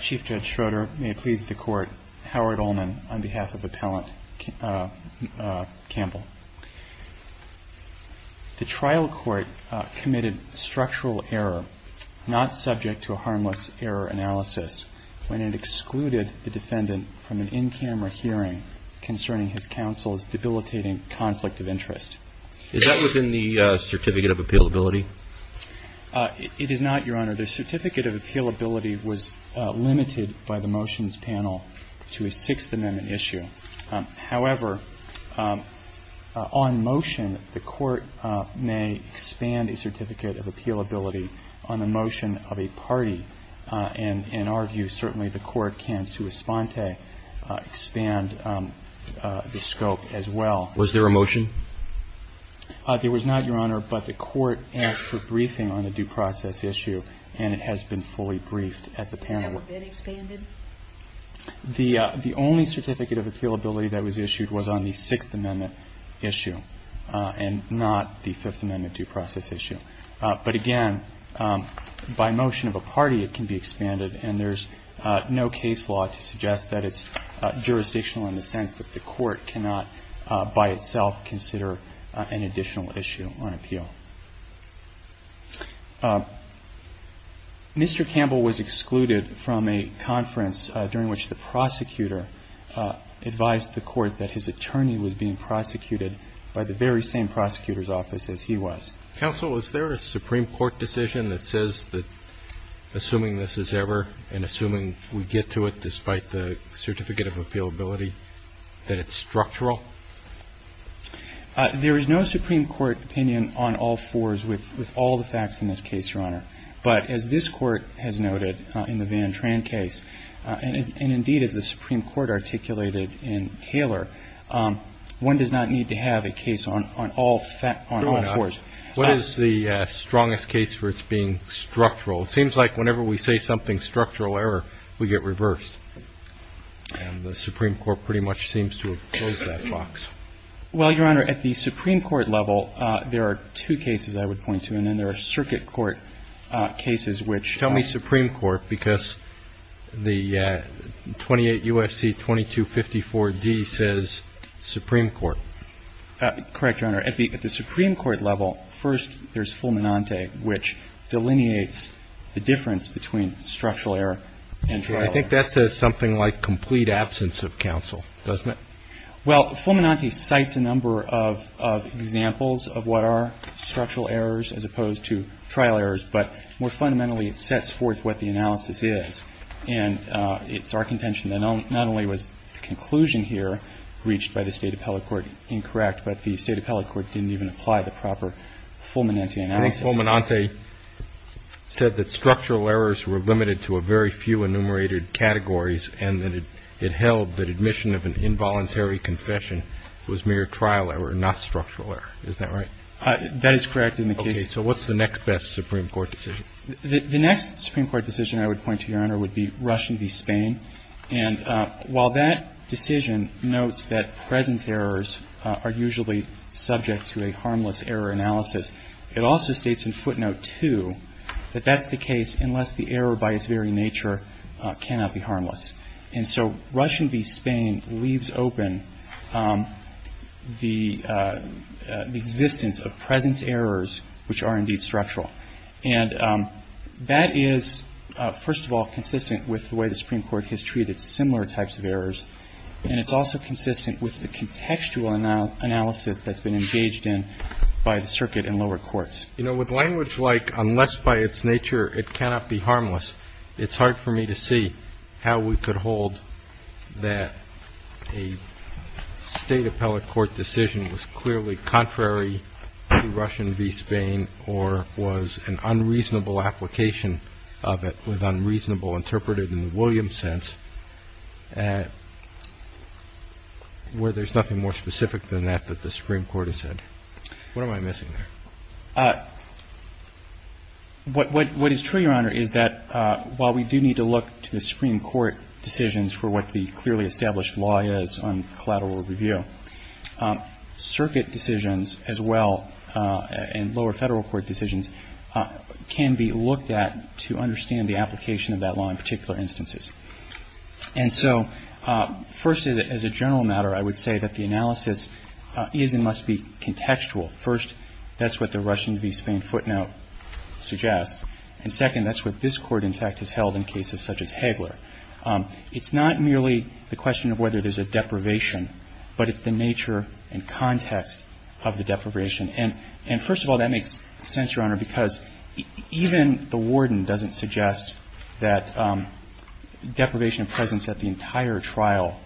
Chief Judge Schroeder, may it please the Court, Howard Ullman on behalf of Appellant Campbell. The trial court committed structural error not subject to a harmless error analysis when it excluded the defendant from an in-camera hearing concerning his counsel's debilitating conflict of interest. Is that within the Certificate of Appealability? It is not, Your Honor. The Certificate of Appealability was limited by the motions panel to a Sixth Amendment issue. However, on motion, the Court may expand a Certificate of Appealability on the motion of a party, and in our view, certainly the Court can sua sponte expand the scope as well. Was there a motion? There was not, Your Honor, but the Court asked for briefing on the due process issue, and it has been fully briefed at the panel. Has that been expanded? The only Certificate of Appealability that was issued was on the Sixth Amendment issue and not the Fifth Amendment due process issue. But again, by motion of a party, it can be expanded, and there's no case law to suggest that it's jurisdictional in the sense that the Court cannot by itself consider an additional issue on appeal. Mr. Campbell was excluded from a conference during which the prosecutor advised the Court that his attorney was being prosecuted by the very same prosecutor's office as he was. Counsel, is there a Supreme Court decision that says that, assuming this is ever and assuming we get to it despite the Certificate of Appealability, that it's structural? There is no Supreme Court opinion on all fours with all the facts in this case, Your Honor. But as this Court has noted in the Van Tran case, and indeed as the Supreme Court articulated in Taylor, one does not need to have a case on all fours. What is the strongest case for its being structural? It seems like whenever we say something structural error, we get reversed, and the Supreme Court pretty much seems to have closed that box. Well, Your Honor, at the Supreme Court level, there are two cases I would point to, and then there are circuit court cases which are the same. Tell me Supreme Court, because the 28 U.S.C. 2254d says Supreme Court. Correct, Your Honor. At the Supreme Court level, first there's Fulminante, which I think that says something like complete absence of counsel, doesn't it? Well, Fulminante cites a number of examples of what are structural errors as opposed to trial errors, but more fundamentally, it sets forth what the analysis is. And it's our contention that not only was the conclusion here reached by the State Appellate Court incorrect, but the State Appellate Court didn't even apply the proper Fulminante analysis. I think Fulminante said that structural errors were limited to a very few enumerated categories and that it held that admission of an involuntary confession was mere trial error, not structural error. Is that right? That is correct in the case. Okay. So what's the next best Supreme Court decision? The next Supreme Court decision I would point to, Your Honor, would be Rush v. Spain. And while that decision notes that presence errors are usually subject to a harmless error analysis, it also states in footnote 2 that that's the case unless the error by its very nature cannot be harmless. And so Rush v. Spain leaves open the existence of presence errors which are indeed structural. And that is, first of all, consistent with the way the Supreme Court has treated similar types of errors, and it's also consistent with the contextual analysis that's been engaged in by the circuit in lower courts. You know, with language like unless by its nature it cannot be harmless, it's hard for me to see how we could hold that a State Appellate Court decision was clearly contrary to Rush v. Spain or was an unreasonable application of it, was unreasonable interpreted in the Williams sense, where there's nothing more specific than that that the Supreme Court has said. What am I missing there? What is true, Your Honor, is that while we do need to look to the Supreme Court decisions for what the clearly established law is on collateral review, circuit decisions as well and lower Federal Court decisions can be looked at to understand the application of that law in particular instances. And so first, as a general matter, I would say that the analysis is and must be contextual. First, that's what the Rush v. Spain footnote suggests. And second, that's what this Court, in fact, has held in cases such as Hagler. It's not merely the question of whether there's a deprivation, but it's the nature and context of the deprivation. And first of all, that makes sense, Your Honor, because even the warden doesn't suggest that deprivation of presence at the entire trial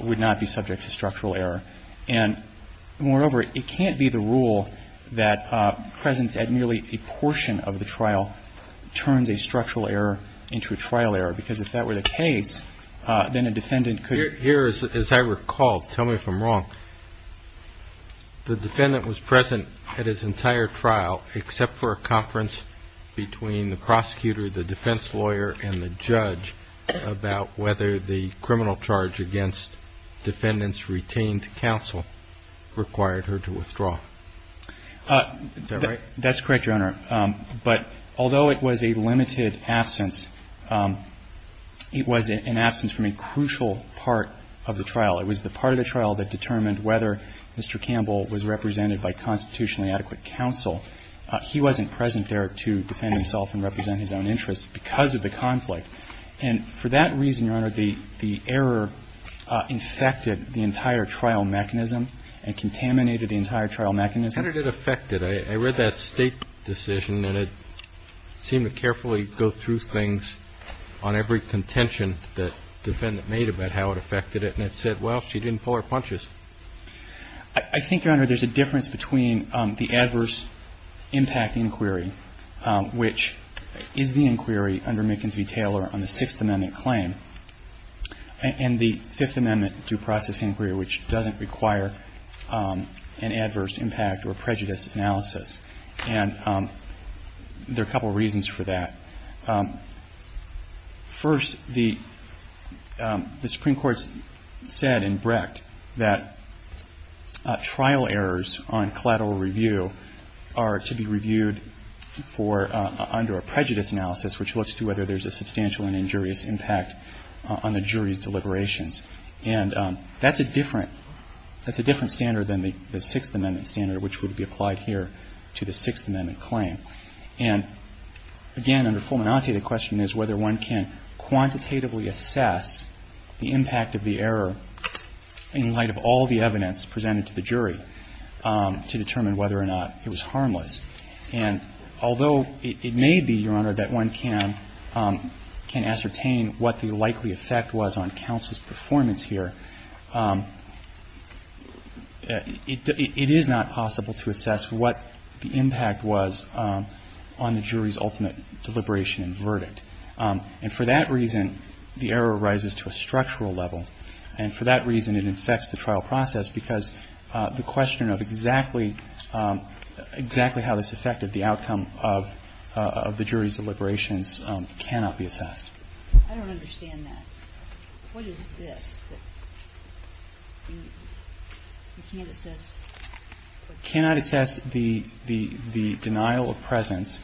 would not be subject to structural error. And moreover, it can't be the rule that presence at nearly a portion of the trial turns a structural error into a trial error, because if that were the case, then a defendant could be. As I recall, tell me if I'm wrong, the defendant was present at his entire trial except for a conference between the prosecutor, the defense lawyer and the judge about whether the criminal charge against defendants retained counsel required her to withdraw. Is that right? That's correct, Your Honor. But although it was a limited absence, it was an absence from a crucial part of the trial. It was the part of the trial that determined whether Mr. Campbell was represented by constitutionally adequate counsel. He wasn't present there to defend himself and represent his own interests because of the conflict. And for that reason, Your Honor, the error infected the entire trial mechanism and contaminated the entire trial mechanism. Your Honor, did it affect it? I read that State decision, and it seemed to carefully go through things on every contention that the defendant made about how it affected it. And it said, well, she didn't pull her punches. I think, Your Honor, there's a difference between the adverse impact inquiry, which is the inquiry under Mickens v. Taylor on the Sixth Amendment claim, and the Fifth Amendment due process inquiry, which doesn't require an adverse impact or prejudice analysis. And there are a couple of reasons for that. First, the Supreme Court said in Brecht that trial errors on collateral review are to be reviewed for under a prejudice analysis, which looks to whether there's a substantial and injurious impact on the jury's deliberations. And that's a different standard than the Sixth Amendment standard, which would be applied here to the Sixth Amendment claim. And, again, under Fulminante, the question is whether one can quantitatively assess the impact of the error in light of all the evidence presented to the jury to determine whether or not it was harmless. And although it may be, Your Honor, that one can ascertain what the likely effect was on counsel's performance here, it is not possible to assess what the impact was on the jury's ultimate deliberation and verdict. And for that reason, the error rises to a structural level. And for that reason, it infects the trial process, because the question of exactly how this affected the outcome of the jury's deliberations cannot be assessed. I don't understand that. What is this that you can't assess? You cannot assess the denial of presence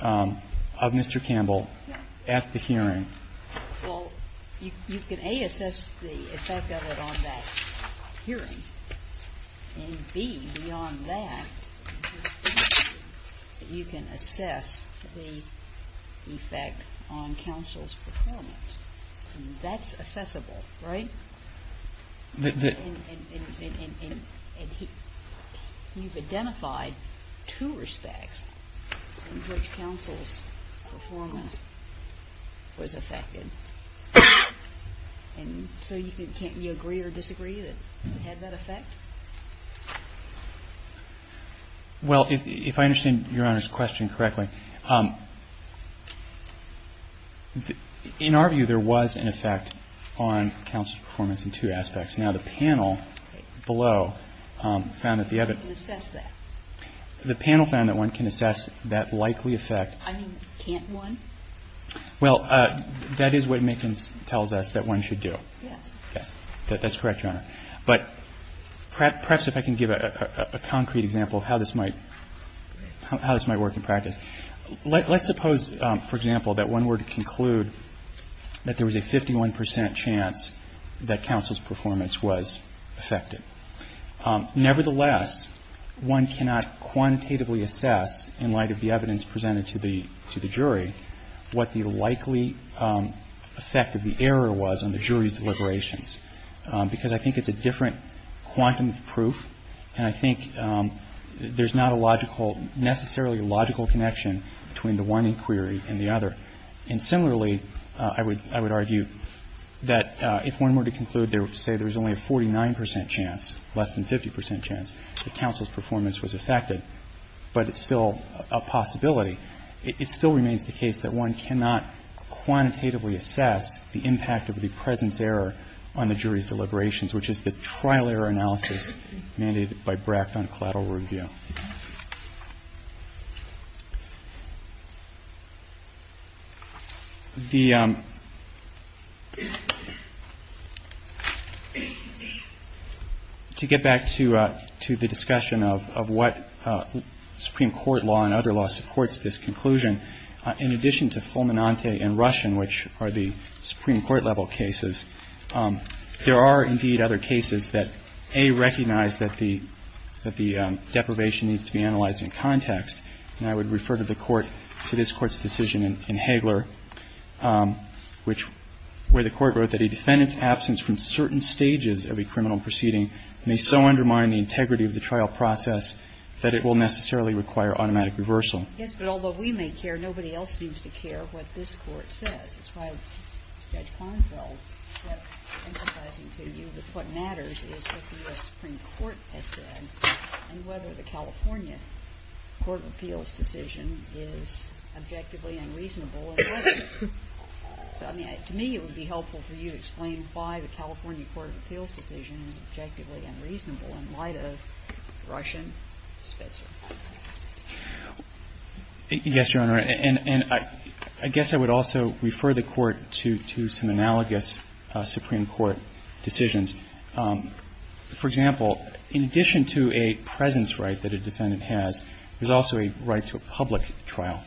of Mr. Campbell at the hearing. Well, you can, A, assess the effect of it on that hearing, and B, beyond that, you can assess the effect on counsel's performance. That's assessable, right? And you've identified two respects in which counsel's performance was affected. And so you agree or disagree that it had that effect? Well, if I understand Your Honor's question correctly, in our view, there was an effect on counsel's performance in two aspects. Now, the panel below found that the other one can assess that likely effect. I mean, can't one? Well, that is what Mickens tells us that one should do. Yes. Yes. That's correct, Your Honor. But perhaps if I can give a concrete example of how this might work in practice. Let's suppose, for example, that one were to conclude that there was a 51 percent chance that counsel's performance was affected. Nevertheless, one cannot quantitatively assess, in light of the evidence presented to the jury, what the likely effect of the error was on the jury's deliberations, because I think it's a different quantum of proof, and I think there's not a logical necessarily logical connection between the one inquiry and the other. And similarly, I would argue that if one were to conclude, say, there was only a 49 percent chance, less than 50 percent chance, that counsel's performance was affected, but it's still a possibility. It still remains the case that one cannot quantitatively assess the impact of the presence error on the jury's deliberations, which is the trial error analysis mandated by Bracht on collateral review. The to get back to the discussion of what Supreme Court law and other law supports this conclusion, in addition to Fulminante and Russian, which are the Supreme Court level cases, there are, indeed, other cases that, A, recognize that the deprivation needs to be analyzed in context, and I would refer to the Court, to this Court's decision in Hagler, which, where the Court wrote that a defendant's absence from certain stages of a criminal proceeding may so undermine the integrity of the trial process that it will necessarily require automatic reversal. Yes, but although we may care, nobody else seems to care what this Court says. That's why, Judge Kornfeld, I'm emphasizing to you that what matters is what the U.S. Supreme Court has said and whether the California Court of Appeals decision is objectively unreasonable. To me, it would be helpful for you to explain why the California Court of Appeals decision is objectively unreasonable in light of Russian spitzer. Yes, Your Honor. And I guess I would also refer the Court to some analogous Supreme Court decisions. For example, in addition to a presence right that a defendant has, there's also a right to a public trial,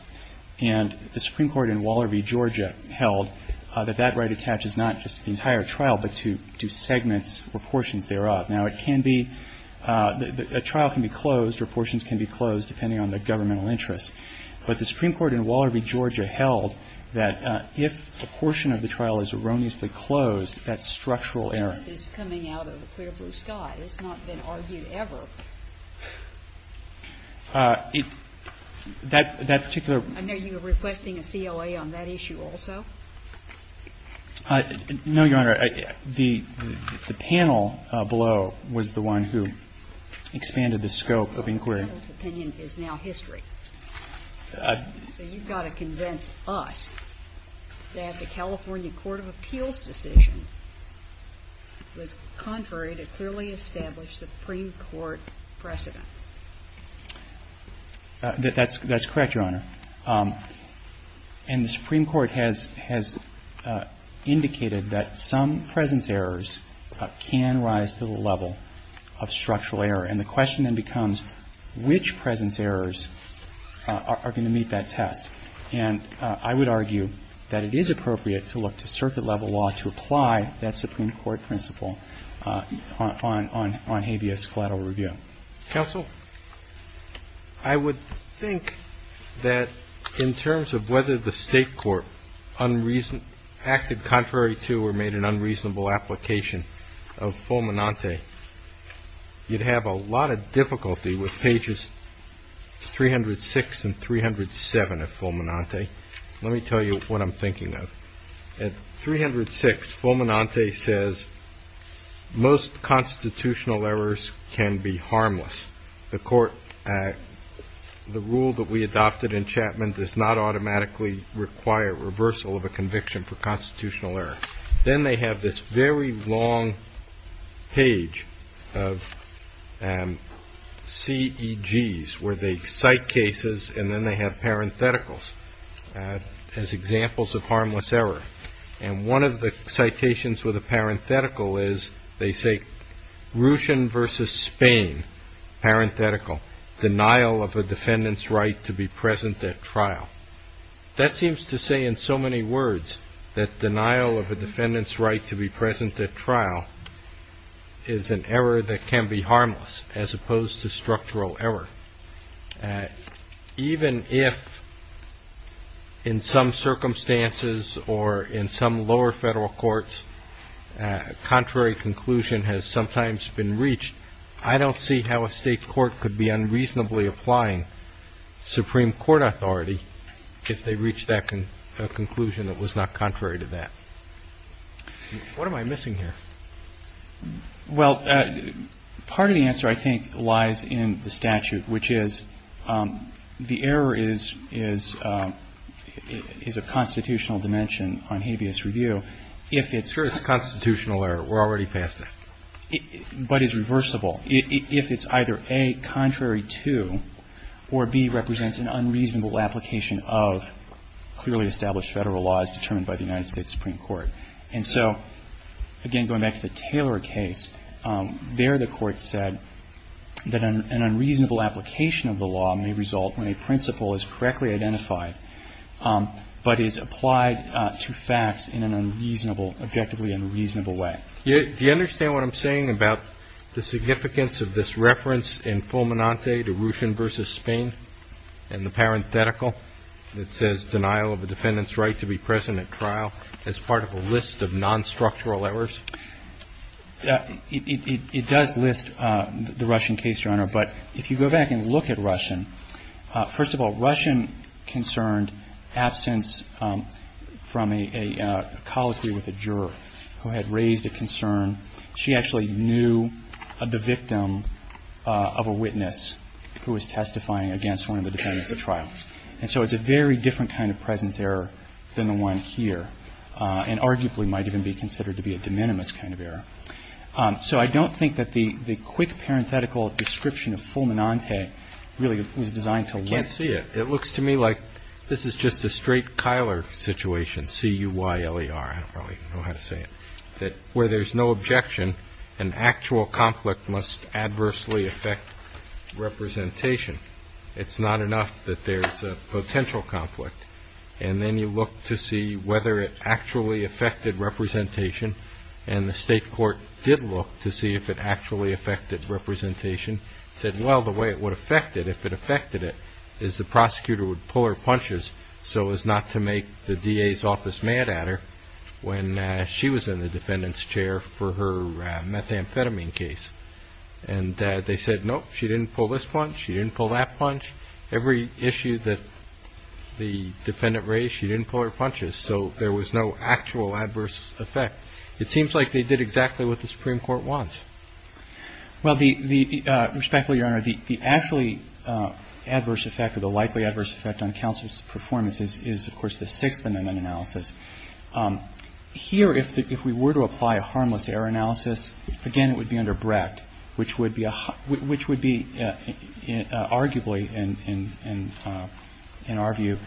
and the Supreme Court in Waller v. Georgia held that that right attaches not just to the entire trial but to segments or portions thereof. Now, it can be – a trial can be closed or portions can be closed depending on the governmental interest. But the Supreme Court in Waller v. Georgia held that if a portion of the trial is erroneously closed, that's structural error. This is coming out of a clear blue sky. It's not been argued ever. That particular – I know you were requesting a COA on that issue also. No, Your Honor. The panel below was the one who expanded the scope of inquiry. The panel's opinion is now history. So you've got to convince us that the California Court of Appeals decision was contrary to clearly established Supreme Court precedent. That's correct, Your Honor. And the Supreme Court has indicated that some presence errors can rise to the level of structural error. And the question then becomes which presence errors are going to meet that test. And I would argue that it is appropriate to look to circuit-level law to apply that Supreme Court principle on habeas collateral review. Counsel, I would think that in terms of whether the State Court acted contrary to or made an unreasonable application of fulminante, you'd have a lot of difficulty with pages 306 and 307 of fulminante. Let me tell you what I'm thinking of. At 306, fulminante says most constitutional errors can be harmless. The court – the rule that we adopted in Chapman does not automatically require reversal of a conviction for constitutional error. Then they have this very long page of CEGs where they cite cases, and then they have parentheticals as examples of harmless errors. And one of the citations with a parenthetical is they say, Russian versus Spain, parenthetical, denial of a defendant's right to be present at trial. That seems to say in so many words that denial of a defendant's right to be present at trial is an error that can be harmless as opposed to structural error. Even if in some circumstances or in some lower Federal courts, a contrary conclusion has sometimes been reached, I don't see how a State court could be unreasonably applying Supreme Court authority if they reach that conclusion that was not contrary to that. What am I missing here? Well, part of the answer, I think, lies in the statute, which is the error is a constitutional dimension on habeas review if it's – Sure, it's a constitutional error. We're already past that. But is reversible if it's either, A, contrary to, or B, represents an unreasonable application of clearly established Federal laws determined by the United States Supreme Court. And so, again, going back to the Taylor case, there the Court said that an unreasonable application of the law may result when a principle is correctly identified but is applied to facts in an objectively unreasonable way. Do you understand what I'm saying about the significance of this reference in Fulminante to Russian versus Spain and the parenthetical that says denial of a defendant's right to be present at trial as part of a list of nonstructural errors? It does list the Russian case, Your Honor. But if you go back and look at Russian, first of all, Russian concerned absence from a colloquy with a juror who had raised a concern. She actually knew the victim of a witness who was testifying against one of the defendants at trial. And so it's a very different kind of presence error than the one here and arguably might even be considered to be a de minimis kind of error. So I don't think that the quick parenthetical description of Fulminante really was designed to list. I can't see it. It looks to me like this is just a straight Keiler situation, C-U-Y-L-E-R. I don't really know how to say it. That where there's no objection, an actual conflict must adversely affect representation. It's not enough that there's a potential conflict. And then you look to see whether it actually affected representation. And the state court did look to see if it actually affected representation. Said, well, the way it would affect it, if it affected it, is the prosecutor would pull her punches so as not to make the DA's office mad at her when she was in the defendant's chair for her methamphetamine case. And they said, nope, she didn't pull this punch. She didn't pull that punch. Every issue that the defendant raised, she didn't pull her punches. So there was no actual adverse effect. It seems like they did exactly what the Supreme Court wants. Well, respectfully, Your Honor, the actually adverse effect or the likely adverse effect on counsel's performance is, of course, the Sixth Amendment analysis. Here, if we were to apply a harmless error analysis, again, it would be under Brett, which would be arguably, in our view,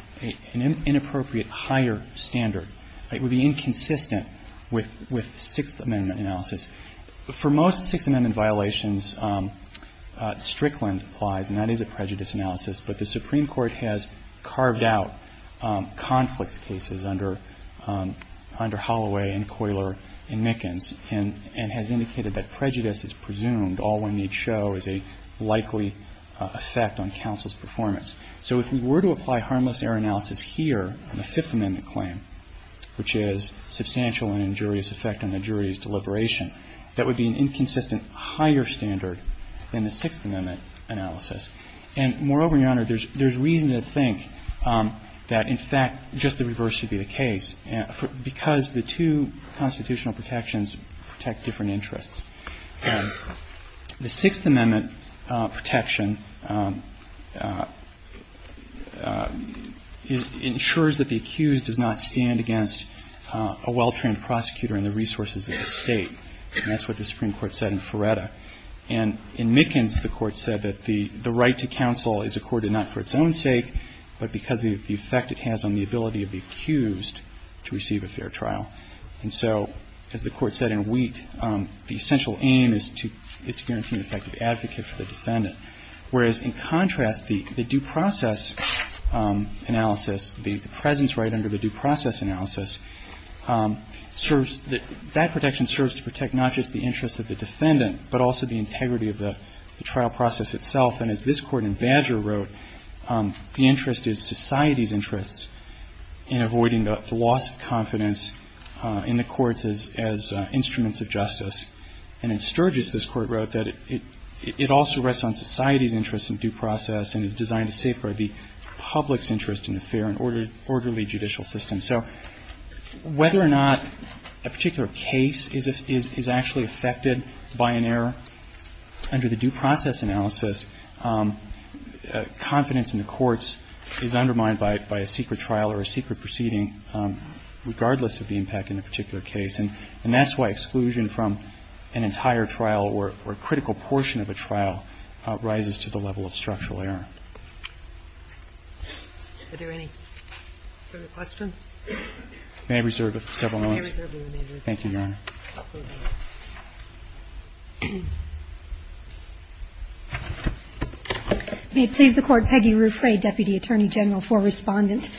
an inappropriate higher standard. It would be inconsistent with Sixth Amendment analysis. For most Sixth Amendment violations, Strickland applies, and that is a prejudice analysis. But the Supreme Court has carved out conflict cases under Holloway and Coyler and show is a likely effect on counsel's performance. So if we were to apply harmless error analysis here on the Fifth Amendment claim, which is substantial and injurious effect on the jury's deliberation, that would be an inconsistent higher standard than the Sixth Amendment analysis. And moreover, Your Honor, there's reason to think that, in fact, just the reverse should be the case, because the two constitutional protections protect different interests. The Sixth Amendment protection ensures that the accused does not stand against a well-trained prosecutor and the resources of the State. And that's what the Supreme Court said in Feretta. And in Mickens, the Court said that the right to counsel is accorded not for its own to receive a fair trial. And so, as the Court said in Wheat, the essential aim is to guarantee an effective advocate for the defendant, whereas, in contrast, the due process analysis, the presence right under the due process analysis, serves the – that protection serves to protect not just the interests of the defendant, but also the integrity of the trial process itself. And as this Court in Badger wrote, the interest is society's interests in avoiding the loss of confidence in the courts as instruments of justice. And in Sturgis, this Court wrote that it also rests on society's interest in due process and is designed to safeguard the public's interest in a fair and orderly judicial system. So whether or not a particular case is actually affected by an error under the due process analysis, confidence in the courts is undermined by a secret trial or a secret proceeding, regardless of the impact in a particular case. And that's why exclusion from an entire trial or a critical portion of a trial rises to the level of structural error. Do we have any further questions? I may reserve several minutes. You may reserve your remaining minutes. Thank you, Your Honor. May it please the Court. Peggy Ruffray, Deputy Attorney General for Respondent.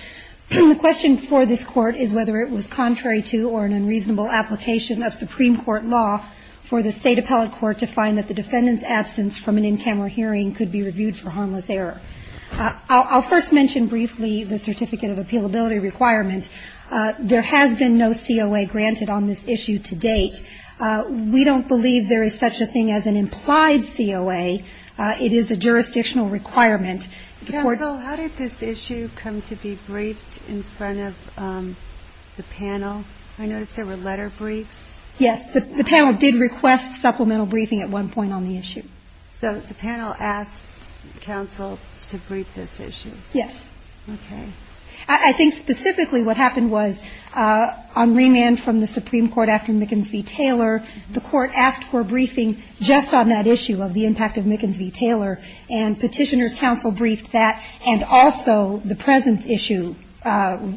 The question for this Court is whether it was contrary to or an unreasonable application of Supreme Court law for the State appellate court to find that the defendant's absence from an in-camera hearing could be reviewed for harmless error. I'll first mention briefly the certificate of appealability requirement. There has been no COA granted on this issue to date. We don't believe there is such a thing as an implied COA. It is a jurisdictional requirement. Counsel, how did this issue come to be briefed in front of the panel? I noticed there were letter briefs. Yes. The panel did request supplemental briefing at one point on the issue. So the panel asked counsel to brief this issue? Yes. Okay. I think specifically what happened was on remand from the Supreme Court after Mickens v. Taylor, the Court asked for a briefing just on that issue of the impact of And also the presence issue. At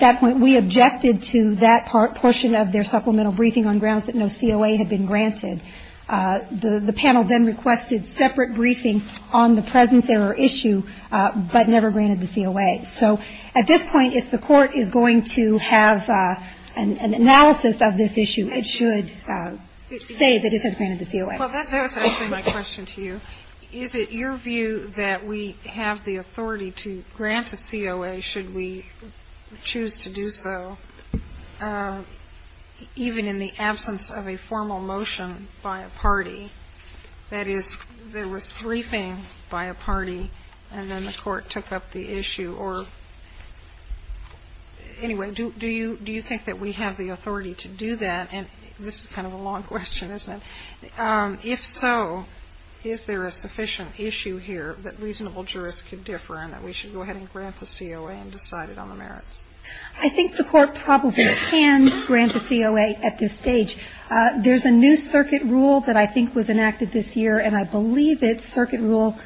that point, we objected to that portion of their supplemental briefing on grounds that no COA had been granted. The panel then requested separate briefing on the presence error issue, but never granted the COA. So at this point, if the Court is going to have an analysis of this issue, it should say that it has granted the COA. Well, that does answer my question to you. Is it your view that we have the authority to grant a COA, should we choose to do so, even in the absence of a formal motion by a party? That is, there was briefing by a party, and then the Court took up the issue. Or anyway, do you think that we have the authority to do that? And this is kind of a long question, isn't it? If so, is there a sufficient issue here that reasonable jurists can differ and that we should go ahead and grant the COA and decide it on the merits? I think the Court probably can grant the COA at this stage. There's a new circuit rule that I think was enacted this year, and I believe it's Circuit Rule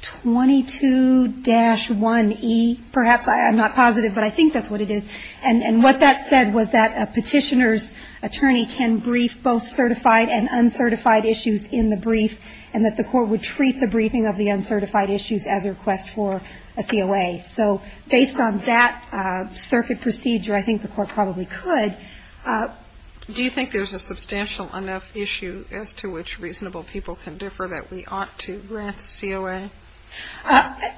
22-1E. Perhaps I'm not positive, but I think that's what it is. And what that said was that a Petitioner's attorney can brief both certified and uncertified issues in the brief, and that the Court would treat the briefing of the uncertified issues as a request for a COA. So based on that circuit procedure, I think the Court probably could. Do you think there's a substantial enough issue as to which reasonable people can differ that we ought to grant the COA?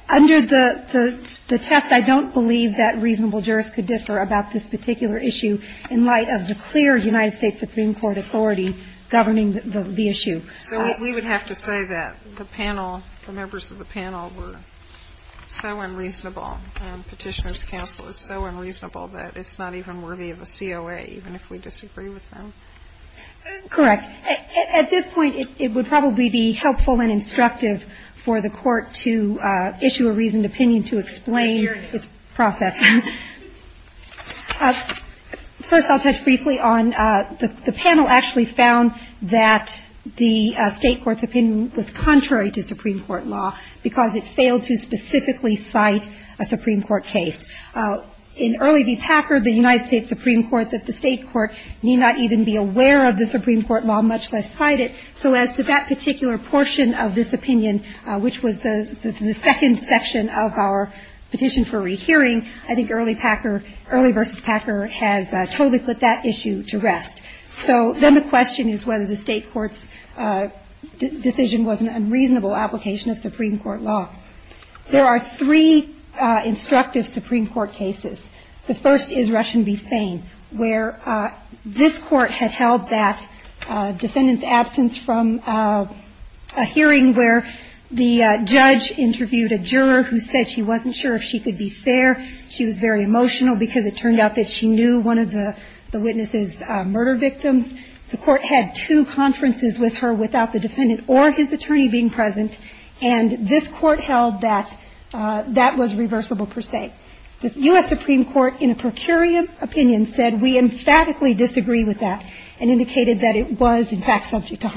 Under the test, I don't believe that reasonable jurists could differ about this particular issue in light of the clear United States Supreme Court authority governing the issue. So we would have to say that the panel, the members of the panel, were so unreasonable and Petitioner's counsel is so unreasonable that it's not even worthy of a COA, even if we disagree with them? Correct. At this point, it would probably be helpful and instructive for the Court to issue a reasoned opinion to explain its process. First, I'll touch briefly on the panel actually found that the State court's opinion was contrary to Supreme Court law because it failed to specifically cite a Supreme Court case. In Early v. Packard, the United States Supreme Court, that the State court need not even be aware of the Supreme Court law, much less cite it. So as to that particular portion of this opinion, which was the second section of our petition for rehearing, I think Early v. Packard has totally put that issue to rest. So then the question is whether the State court's decision was an unreasonable application of Supreme Court law. There are three instructive Supreme Court cases. The first is Russian v. Spain, where this Court had held that defendant's absence from a hearing where the judge interviewed a juror who said she wasn't sure if she could be fair. She was very emotional because it turned out that she knew one of the witness's murder victims. The Court had two conferences with her without the defendant or his attorney being present, and this Court held that that was reversible per se. The U.S. Supreme Court, in a per curiam opinion, said we emphatically disagree with that and indicated that it was, in fact, subject to harm.